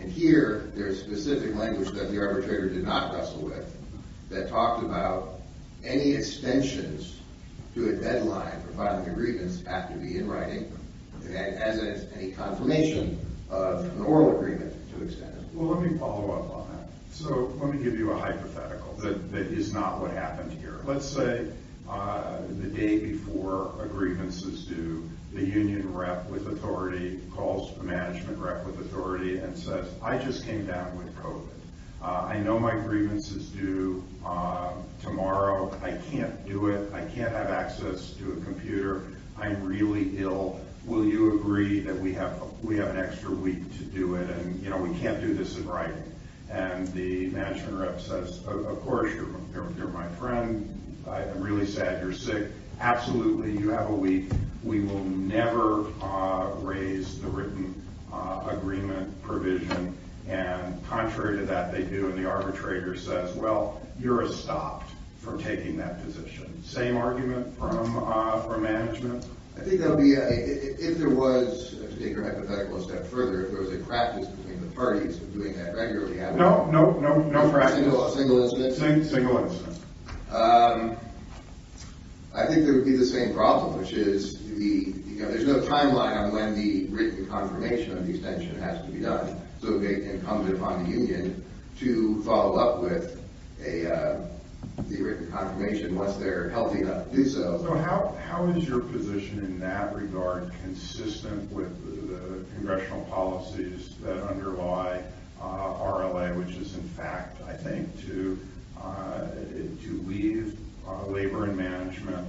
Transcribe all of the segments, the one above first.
And here, there's specific language that the arbitrator did not wrestle with that talked about any extensions to a deadline for filing agreements have to be in writing as any confirmation of an oral agreement to extend it. Well, let me follow up on that. So, let me give you a hypothetical that is not what happened here. Let's say the day before a grievance is due, the union rep with authority calls the management rep with authority and says, I just came down with COVID. I know my grievance is due tomorrow. I can't do it. I can't have access to a computer. I'm really ill. Will you agree that we have an extra week to do it? And, you know, we can't do this in writing. And the management rep says, of course, you're my friend. I'm really sad you're sick. Absolutely, you have a week. We will never raise the written agreement provision. And contrary to that, they do. And the arbitrator says, well, you're stopped from taking that position. Same argument from management? I think that would be, if there was, to take your hypothetical a step further, if there was a practice between the parties of doing that regularly. No, no, no practice. Single incident? Single incident. I think there would be the same problem, which is, you know, there's no timeline on when the written confirmation of the extension has to be done. So it becomes incumbent upon the union to follow up with the written confirmation once they're healthy enough to do so. So how is your position in that regard consistent with the congressional policies that underlie RLA, which is, in fact, I think, to leave labor and management,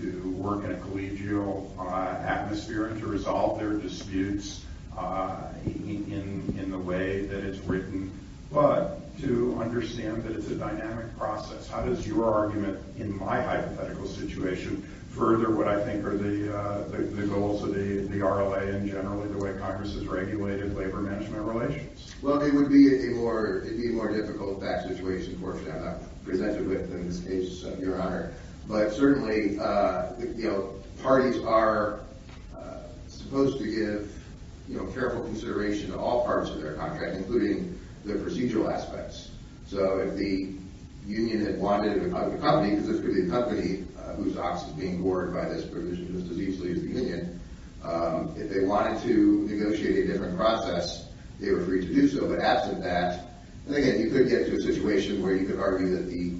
to work in a collegial atmosphere and to resolve their disputes in the way that it's written, but to understand that it's a dynamic process? How does your argument in my hypothetical situation further what I think are the goals of the RLA and generally the way Congress has regulated labor-management relations? Well, it would be a more difficult fact situation, of course, that I'm not presented with in this case, Your Honor. But certainly, you know, parties are supposed to give, you know, careful consideration to all parts of their contract, including the procedural aspects. So if the union had wanted a company, because it's really a company whose ox is being bored by this provision just as easily as the union, if they wanted to negotiate a different process, they were free to do so. But absent that, again, you could get to a situation where you could argue that the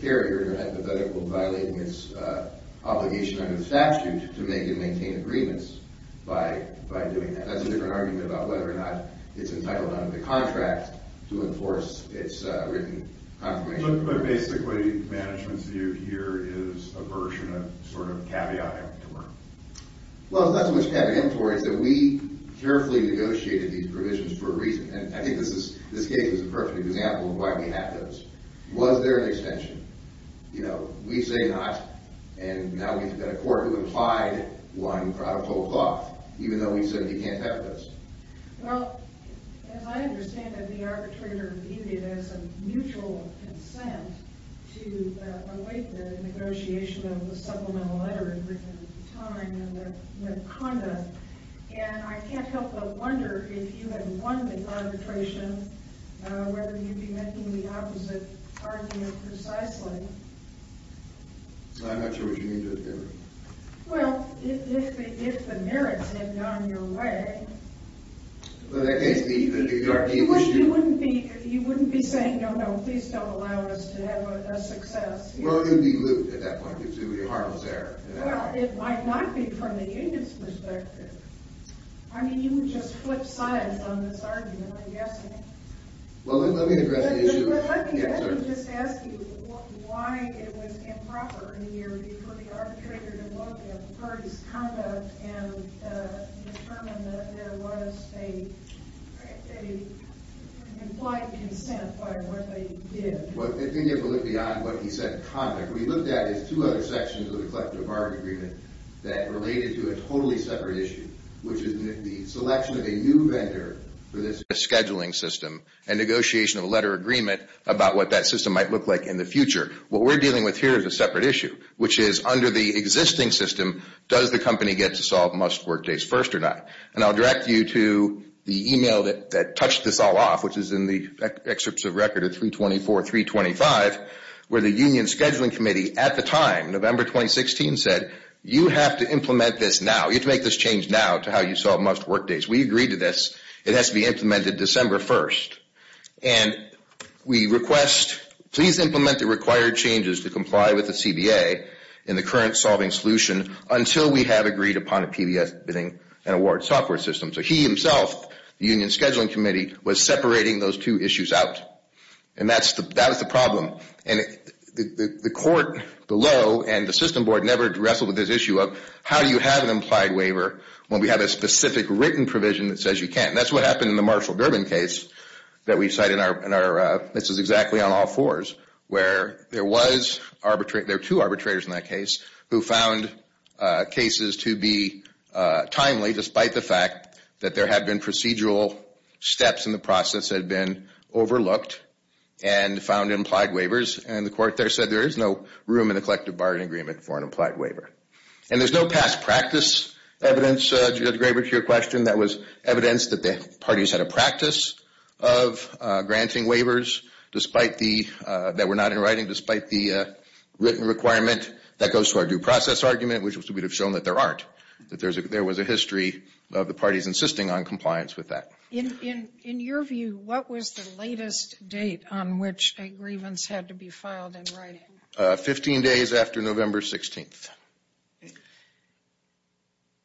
carrier, in your hypothetical, violating its obligation under the statute to make and maintain agreements by doing that. That's a different argument about whether or not it's entitled under the contract to enforce its written confirmation. But basically, management's view here is a version of sort of caveat emptor. Well, it's not so much caveat emptor. It's that we carefully negotiated these provisions for a reason. And I think this case is a perfect example of why we have those. Was there an extension? You know, we say not. And now we've got a court who implied one product whole cloth, even though we said you can't have those. Well, as I understand it, the arbitrator viewed it as a mutual consent to await the negotiation of the supplemental letter written at the time and the conda. And I can't help but wonder if you had won the arbitration, whether you'd be making the opposite argument precisely. I'm not sure what you mean there. Well, if the merits had gone your way. Well, in that case, the New York deal was true. You wouldn't be saying, no, no, please don't allow us to have a success. Well, it would be lewd at that point. It would be a heartless error. Well, it might not be from the union's perspective. I mean, you would just flip sides on this argument, I'm guessing. Well, let me address the issue. Let me just ask you why it was improper in the year before the arbitrator to look at the parties' conduct and determine that there was an implied consent by what they did. Well, it didn't go beyond what he said in the conda. What he looked at is two other sections of the collective bargaining agreement that related to a totally separate issue, which is the selection of a new vendor for this scheduling system and negotiation of a letter of agreement about what that system might look like in the future. What we're dealing with here is a separate issue, which is under the existing system, does the company get to solve must work days first or not? And I'll direct you to the email that touched this all off, which is in the excerpts of record of 324, 325, where the union scheduling committee at the time, November 2016, said, you have to implement this now. You have to make this change now to how you solve must work days. We agreed to this. It has to be implemented December 1st. And we request, please implement the required changes to comply with the CBA in the current solving solution until we have agreed upon a PBS bidding and award software system. So he himself, the union scheduling committee, was separating those two issues out. And that was the problem. The court below and the system board never wrestled with this issue of, how do you have an implied waiver when we have a specific written provision that says you can't? And that's what happened in the Marshall Durbin case that we cite in our, this is exactly on all fours, where there were two arbitrators in that case who found cases to be timely, despite the fact that there had been procedural steps in the process that had been overlooked and found implied waivers. And the court there said there is no room in the collective bargaining agreement for an implied waiver. And there's no past practice evidence, Judge Graber, to your question, that was evidence that the parties had a practice of granting waivers that were not in writing, despite the written requirement that goes to our due process argument, which would have shown that there aren't, that there was a history of the parties insisting on compliance with that. In your view, what was the latest date on which a grievance had to be filed in writing? Fifteen days after November 16th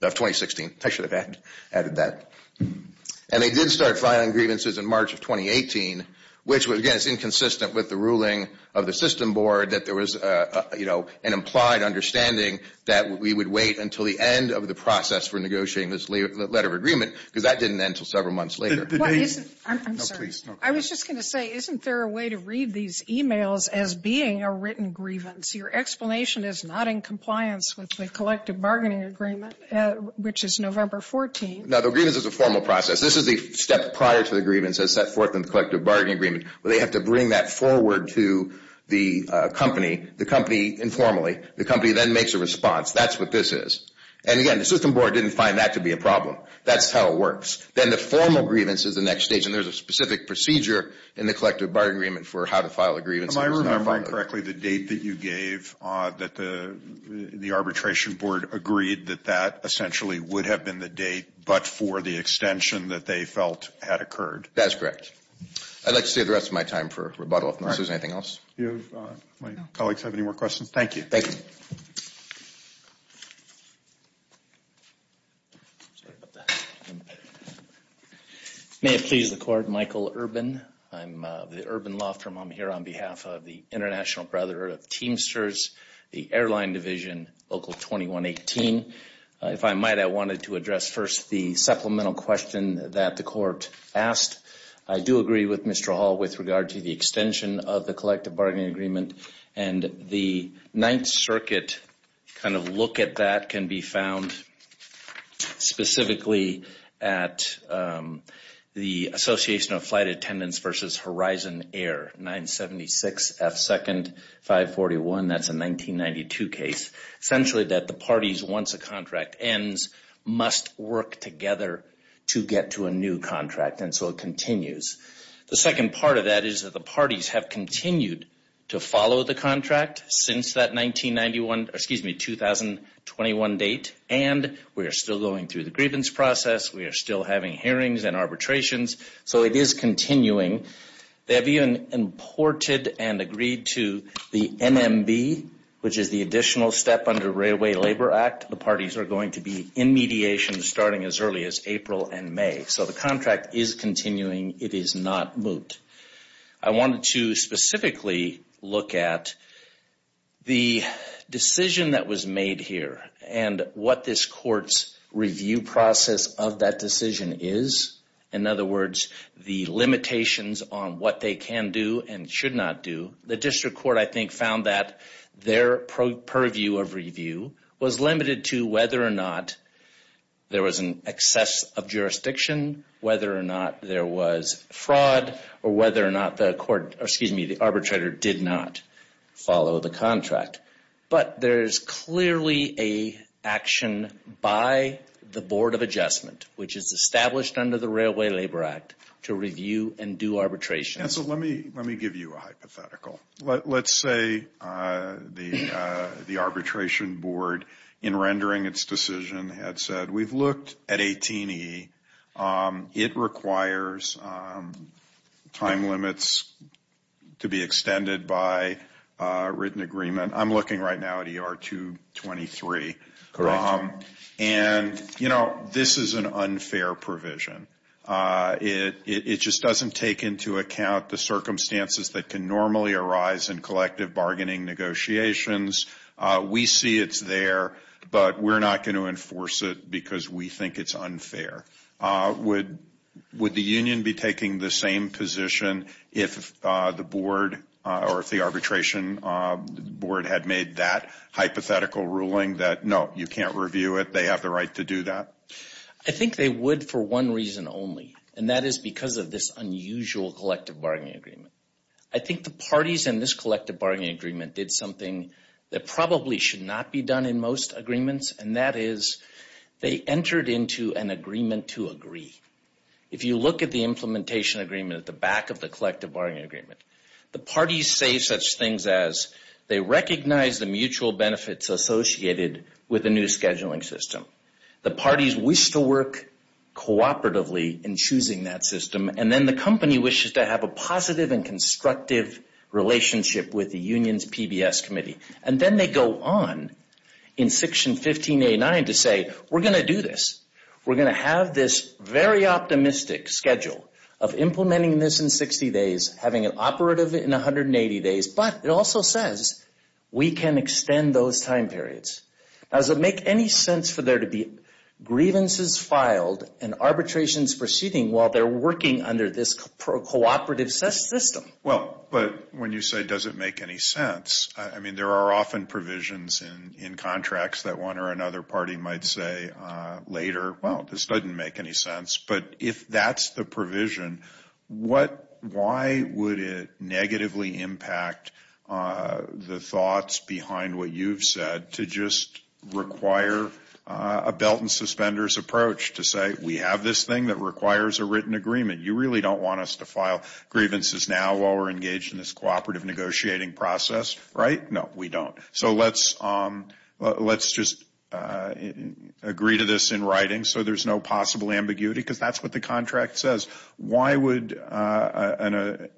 of 2016. I should have added that. And they did start filing grievances in March of 2018, which was, again, inconsistent with the ruling of the system board that there was, you know, an implied understanding that we would wait until the end of the process for negotiating this letter of agreement, because that didn't end until several months later. I'm sorry. I was just going to say, isn't there a way to read these e-mails as being a written grievance? Your explanation is not in compliance with the collective bargaining agreement, which is November 14th. No, the grievance is a formal process. This is the step prior to the grievance that's set forth in the collective bargaining agreement, where they have to bring that forward to the company, the company informally. The company then makes a response. That's what this is. And, again, the system board didn't find that to be a problem. That's how it works. Then the formal grievance is the next stage, and there's a specific procedure in the collective bargaining agreement for how to file a grievance. Am I remembering correctly the date that you gave that the arbitration board agreed that that essentially would have been the date, but for the extension that they felt had occurred? That is correct. I'd like to save the rest of my time for rebuttal, if there's anything else. Do my colleagues have any more questions? Thank you. Thank you. May it please the Court, Michael Urban. I'm of the Urban Law Firm. I'm here on behalf of the International Brotherhood of Teamsters, the airline division, Local 2118. If I might, I wanted to address first the supplemental question that the Court asked. I do agree with Mr. Hall with regard to the extension of the collective bargaining agreement, and the Ninth Circuit kind of look at that can be found specifically at the Association of Flight Attendants versus Horizon Air, 976 F2nd 541. That's a 1992 case. Essentially that the parties, once a contract ends, must work together to get to a new contract, and so it continues. The second part of that is that the parties have continued to follow the contract since that 1991, excuse me, 2021 date, and we are still going through the grievance process. We are still having hearings and arbitrations, so it is continuing. They have even imported and agreed to the NMB, which is the additional step under Railway Labor Act. The parties are going to be in mediation starting as early as April and May, so the contract is continuing. It is not moot. I wanted to specifically look at the decision that was made here and what this Court's review process of that decision is. In other words, the limitations on what they can do and should not do. The District Court, I think, found that their purview of review was limited to whether or not there was an excess of jurisdiction, whether or not there was fraud, or whether or not the arbitrator did not follow the contract. But there is clearly an action by the Board of Adjustment, which is established under the Railway Labor Act, to review and do arbitration. Let me give you a hypothetical. Let's say the Arbitration Board, in rendering its decision, had said, We've looked at 18E. It requires time limits to be extended by written agreement. I'm looking right now at ER 223. And, you know, this is an unfair provision. It just doesn't take into account the circumstances that can normally arise in collective bargaining negotiations. We see it's there, but we're not going to enforce it because we think it's unfair. Would the union be taking the same position if the Board or if the Arbitration Board had made that hypothetical ruling that, No, you can't review it. They have the right to do that? I think they would for one reason only, and that is because of this unusual collective bargaining agreement. I think the parties in this collective bargaining agreement did something that probably should not be done in most agreements, and that is they entered into an agreement to agree. If you look at the implementation agreement at the back of the collective bargaining agreement, the parties say such things as they recognize the mutual benefits associated with the new scheduling system. The parties wish to work cooperatively in choosing that system, and then the company wishes to have a positive and constructive relationship with the union's PBS committee. And then they go on in Section 1589 to say, We're going to do this. We're going to have this very optimistic schedule of implementing this in 60 days, having it operative in 180 days, but it also says we can extend those time periods. Now, does it make any sense for there to be grievances filed and arbitrations proceeding while they're working under this cooperative system? Well, but when you say, Does it make any sense? I mean, there are often provisions in contracts that one or another party might say later, Well, this doesn't make any sense, but if that's the provision, why would it negatively impact the thoughts behind what you've said to just require a belt and suspenders approach to say, We have this thing that requires a written agreement. You really don't want us to file grievances now while we're engaged in this cooperative negotiating process, right? No, we don't. So let's just agree to this in writing so there's no possible ambiguity, because that's what the contract says. Why would that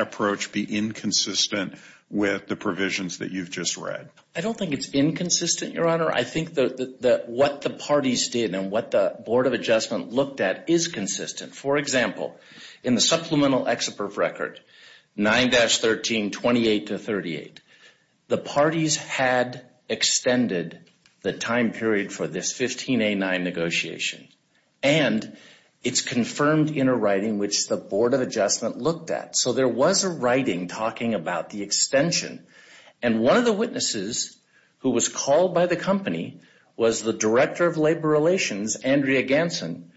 approach be inconsistent with the provisions that you've just read? I don't think it's inconsistent, Your Honor. I think that what the parties did and what the Board of Adjustment looked at is consistent. For example, in the Supplemental Exit Proof Record 9-13-28-38, the parties had extended the time period for this 15A9 negotiation, and it's confirmed in a writing which the Board of Adjustment looked at. So there was a writing talking about the extension, and one of the witnesses who was called by the company was the Director of Labor Relations, Andrea Ganson.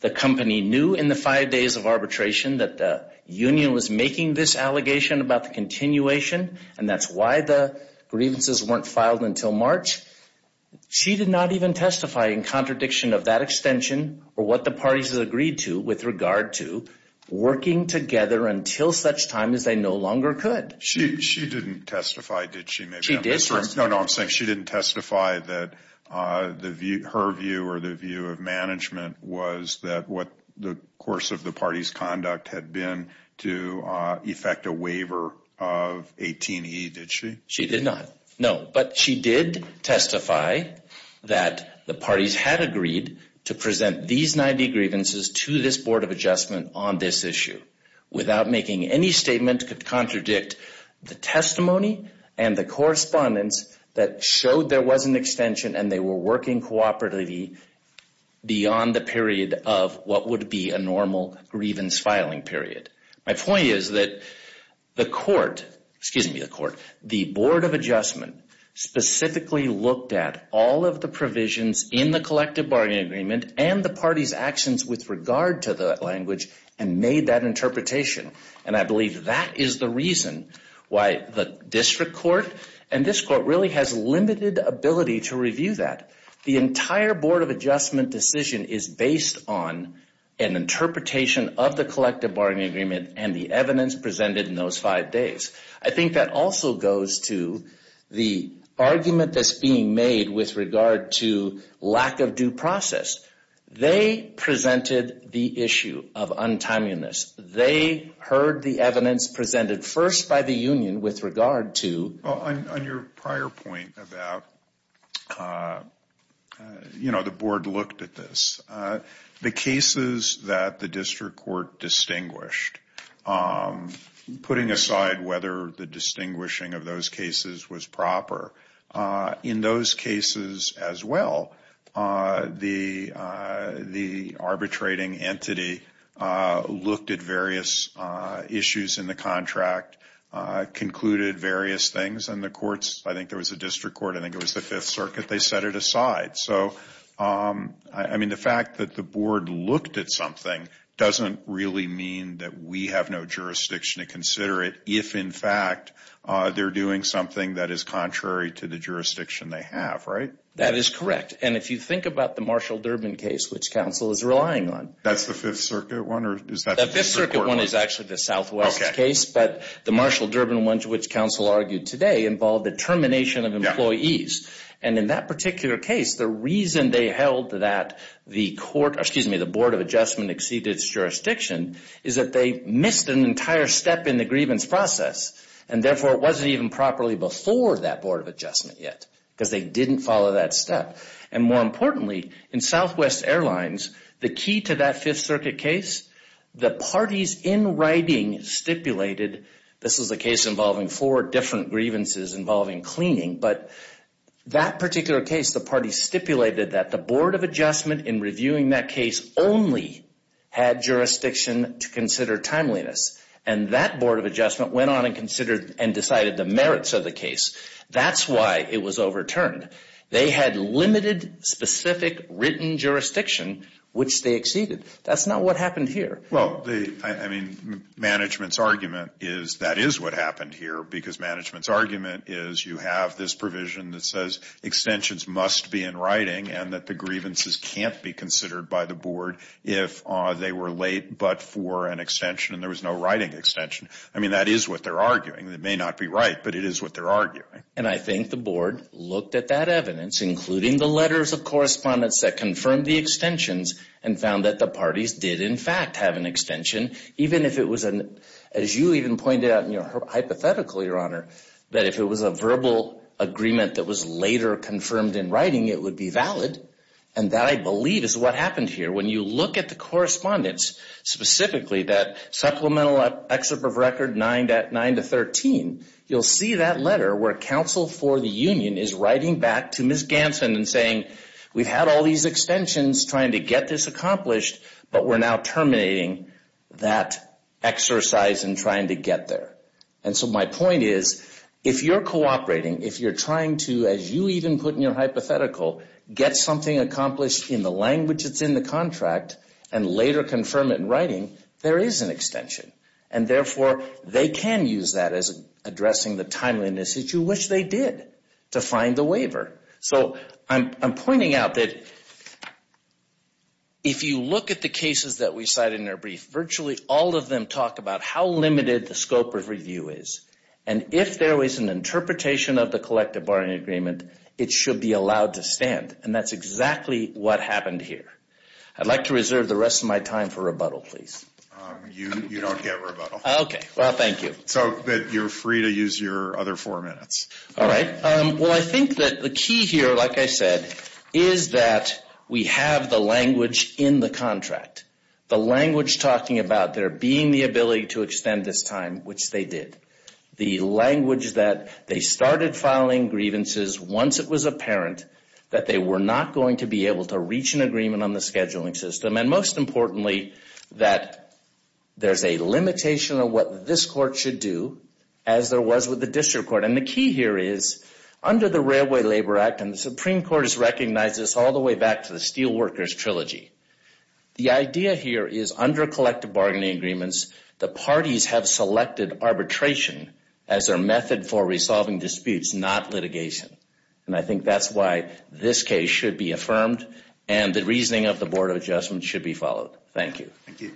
The company knew in the five days of arbitration that the union was making this allegation about the continuation, and that's why the grievances weren't filed until March. She did not even testify in contradiction of that extension or what the parties had agreed to with regard to working together until such time as they no longer could. She didn't testify, did she? that what the course of the parties' conduct had been to effect a waiver of 18E, did she? She did not. No. But she did testify that the parties had agreed to present these 90 grievances to this Board of Adjustment on this issue without making any statement to contradict the testimony and the correspondence that showed there was an extension and they were working cooperatively beyond the period of what would be a normal grievance filing period. My point is that the Court, excuse me, the Court, the Board of Adjustment specifically looked at all of the provisions in the collective bargaining agreement and the parties' actions with regard to that language and made that interpretation. And I believe that is the reason why the district court and this court really has limited ability to review that. The entire Board of Adjustment decision is based on an interpretation of the collective bargaining agreement and the evidence presented in those five days. I think that also goes to the argument that's being made with regard to lack of due process. They presented the issue of untimeliness. They heard the evidence presented first by the union with regard to- Well, on your prior point about, you know, the Board looked at this. The cases that the district court distinguished, putting aside whether the distinguishing of those cases was proper, in those cases as well, the arbitrating entity looked at various issues in the contract, concluded various things, and the courts, I think there was a district court, I think it was the Fifth Circuit, they set it aside. So, I mean, the fact that the Board looked at something doesn't really mean that we have no jurisdiction to consider it if, in fact, they're doing something that is contrary to the jurisdiction they have, right? That is correct. And if you think about the Marshall-Durbin case, which counsel is relying on- That's the Fifth Circuit one, or is that- The Fifth Circuit one is actually the Southwest case, but the Marshall-Durbin one to which counsel argued today involved the termination of employees. And in that particular case, the reason they held that the Board of Adjustment exceeded its jurisdiction is that they missed an entire step in the grievance process, and therefore it wasn't even properly before that Board of Adjustment yet, because they didn't follow that step. And more importantly, in Southwest Airlines, the key to that Fifth Circuit case, the parties in writing stipulated- This was a case involving four different grievances involving cleaning, but that particular case, the parties stipulated that the Board of Adjustment, in reviewing that case, only had jurisdiction to consider timeliness. And that Board of Adjustment went on and considered and decided the merits of the case. That's why it was overturned. They had limited, specific, written jurisdiction, which they exceeded. That's not what happened here. Well, I mean, management's argument is that is what happened here, because management's argument is you have this provision that says extensions must be in writing and that the grievances can't be considered by the Board if they were late but for an extension and there was no writing extension. I mean, that is what they're arguing. It may not be right, but it is what they're arguing. And I think the Board looked at that evidence, including the letters of correspondence that confirmed the extensions, and found that the parties did, in fact, have an extension, even if it was an- As you even pointed out in your hypothetical, Your Honor, that if it was a verbal agreement that was later confirmed in writing, it would be valid. And that, I believe, is what happened here. When you look at the correspondence, specifically that supplemental excerpt of record 9 to 13, you'll see that letter where counsel for the union is writing back to Ms. Ganson and saying, we've had all these extensions trying to get this accomplished, but we're now terminating that exercise in trying to get there. And so my point is, if you're cooperating, if you're trying to, as you even put in your hypothetical, get something accomplished in the language that's in the contract and later confirm it in writing, there is an extension. And therefore, they can use that as addressing the timeliness that you wish they did to find the waiver. So I'm pointing out that if you look at the cases that we cited in our brief, virtually all of them talk about how limited the scope of review is. And if there was an interpretation of the collective barring agreement, it should be allowed to stand. And that's exactly what happened here. I'd like to reserve the rest of my time for rebuttal, please. You don't get rebuttal. Okay. Well, thank you. So you're free to use your other four minutes. All right. Well, I think that the key here, like I said, is that we have the language in the contract. The language talking about there being the ability to extend this time, which they did. The language that they started filing grievances once it was apparent that they were not going to be able to reach an agreement on the scheduling system. And most importantly, that there's a limitation of what this court should do, as there was with the district court. And the key here is, under the Railway Labor Act, and the Supreme Court has recognized this all the way back to the Steelworkers Trilogy, the idea here is, under collective bargaining agreements, the parties have selected arbitration as their method for resolving disputes, not litigation. And I think that's why this case should be affirmed and the reasoning of the Board of Adjustment should be followed. Thank you. Thank you.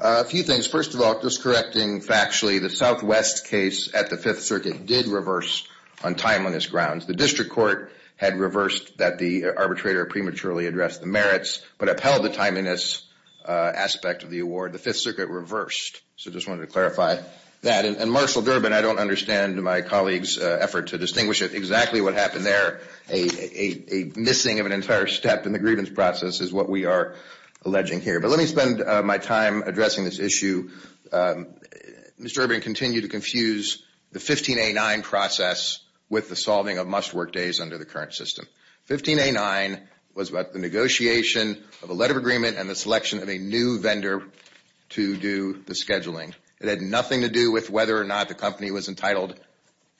A few things. First of all, just correcting factually, the Southwest case at the Fifth Circuit did reverse on timeliness grounds. The district court had reversed that the arbitrator prematurely addressed the merits, but upheld the timeliness aspect of the award. The Fifth Circuit reversed. So I just wanted to clarify that. And, Marshall Durbin, I don't understand my colleague's effort to distinguish exactly what happened there. A missing of an entire step in the grievance process is what we are alleging here. But let me spend my time addressing this issue. Mr. Durbin, continue to confuse the 15A9 process with the solving of must-work days under the current system. 15A9 was about the negotiation of a letter of agreement and the selection of a new vendor to do the scheduling. It had nothing to do with whether or not the company was entitled,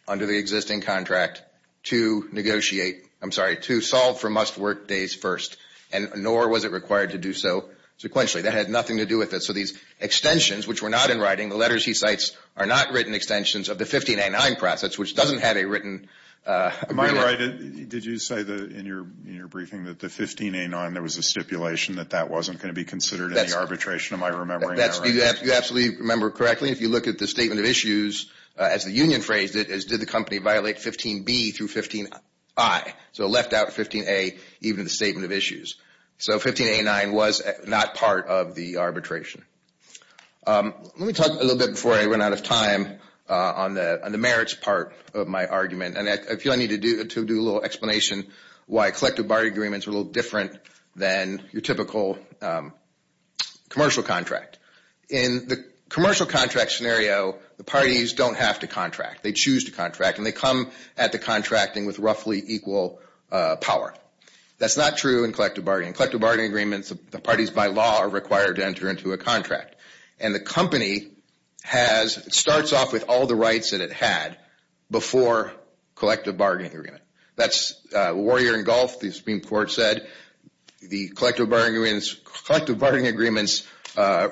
under the existing contract, to negotiate, I'm sorry, to solve for must-work days first, and nor was it required to do so sequentially. That had nothing to do with it. So these extensions, which were not in writing, the letters he cites are not written extensions of the 15A9 process, which doesn't have a written agreement. Am I right? Did you say in your briefing that the 15A9, there was a stipulation that that wasn't going to be considered in the arbitration? Am I remembering that right? You absolutely remember correctly. If you look at the statement of issues, as the union phrased it, as did the company violate 15B through 15I. So it left out 15A even in the statement of issues. So 15A9 was not part of the arbitration. Let me talk a little bit before I run out of time on the merits part of my argument, and I feel I need to do a little explanation why collective bargaining agreements are a little different than your typical commercial contract. In the commercial contract scenario, the parties don't have to contract. They choose to contract, and they come at the contracting with roughly equal power. That's not true in collective bargaining. In collective bargaining agreements, the parties by law are required to enter into a contract, and the company starts off with all the rights that it had before collective bargaining agreement. That's Warrior and Gulf, the Supreme Court said. The collective bargaining agreements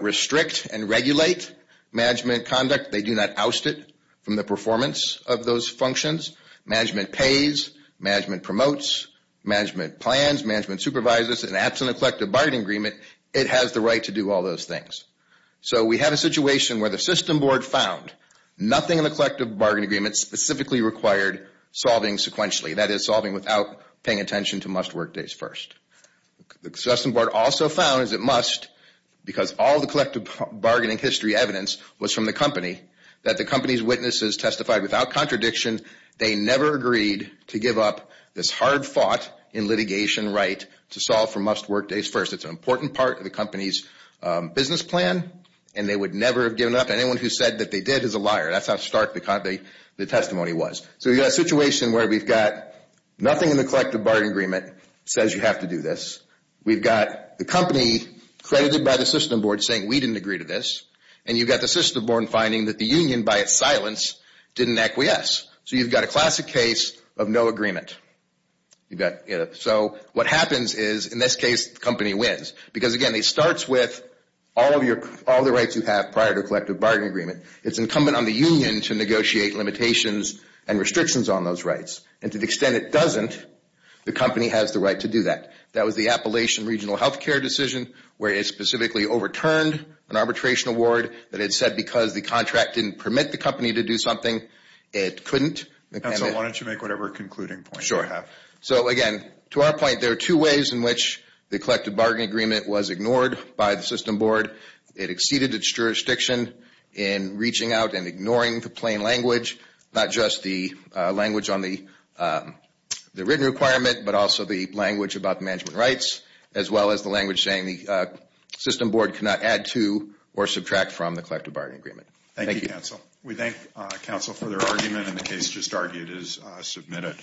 restrict and regulate management conduct. They do not oust it from the performance of those functions. Management pays. Management promotes. Management plans. Management supervises. And absent a collective bargaining agreement, it has the right to do all those things. So we have a situation where the system board found nothing in the collective bargaining agreement specifically required solving sequentially, that is solving without paying attention to must work days first. The system board also found is it must because all the collective bargaining history evidence was from the company that the company's witnesses testified without contradiction they never agreed to give up this hard fought in litigation right to solve for must work days first. It's an important part of the company's business plan, and they would never have given it up. Anyone who said that they did is a liar. That's how stark the testimony was. So we've got a situation where we've got nothing in the collective bargaining agreement says you have to do this. We've got the company credited by the system board saying we didn't agree to this, and you've got the system board finding that the union by its silence didn't acquiesce. So you've got a classic case of no agreement. So what happens is in this case the company wins because, again, it starts with all the rights you have prior to a collective bargaining agreement. It's incumbent on the union to negotiate limitations and restrictions on those rights, and to the extent it doesn't, the company has the right to do that. That was the Appalachian Regional Health Care decision where it specifically overturned an arbitration award that it said because the contract didn't permit the company to do something, it couldn't. And so why don't you make whatever concluding point you have. So, again, to our point, there are two ways in which the collective bargaining agreement was ignored by the system board. It exceeded its jurisdiction in reaching out and ignoring the plain language, not just the language on the written requirement, but also the language about the management rights, as well as the language saying the system board cannot add to or subtract from the collective bargaining agreement. Thank you. We thank counsel for their argument, and the case just argued is submitted.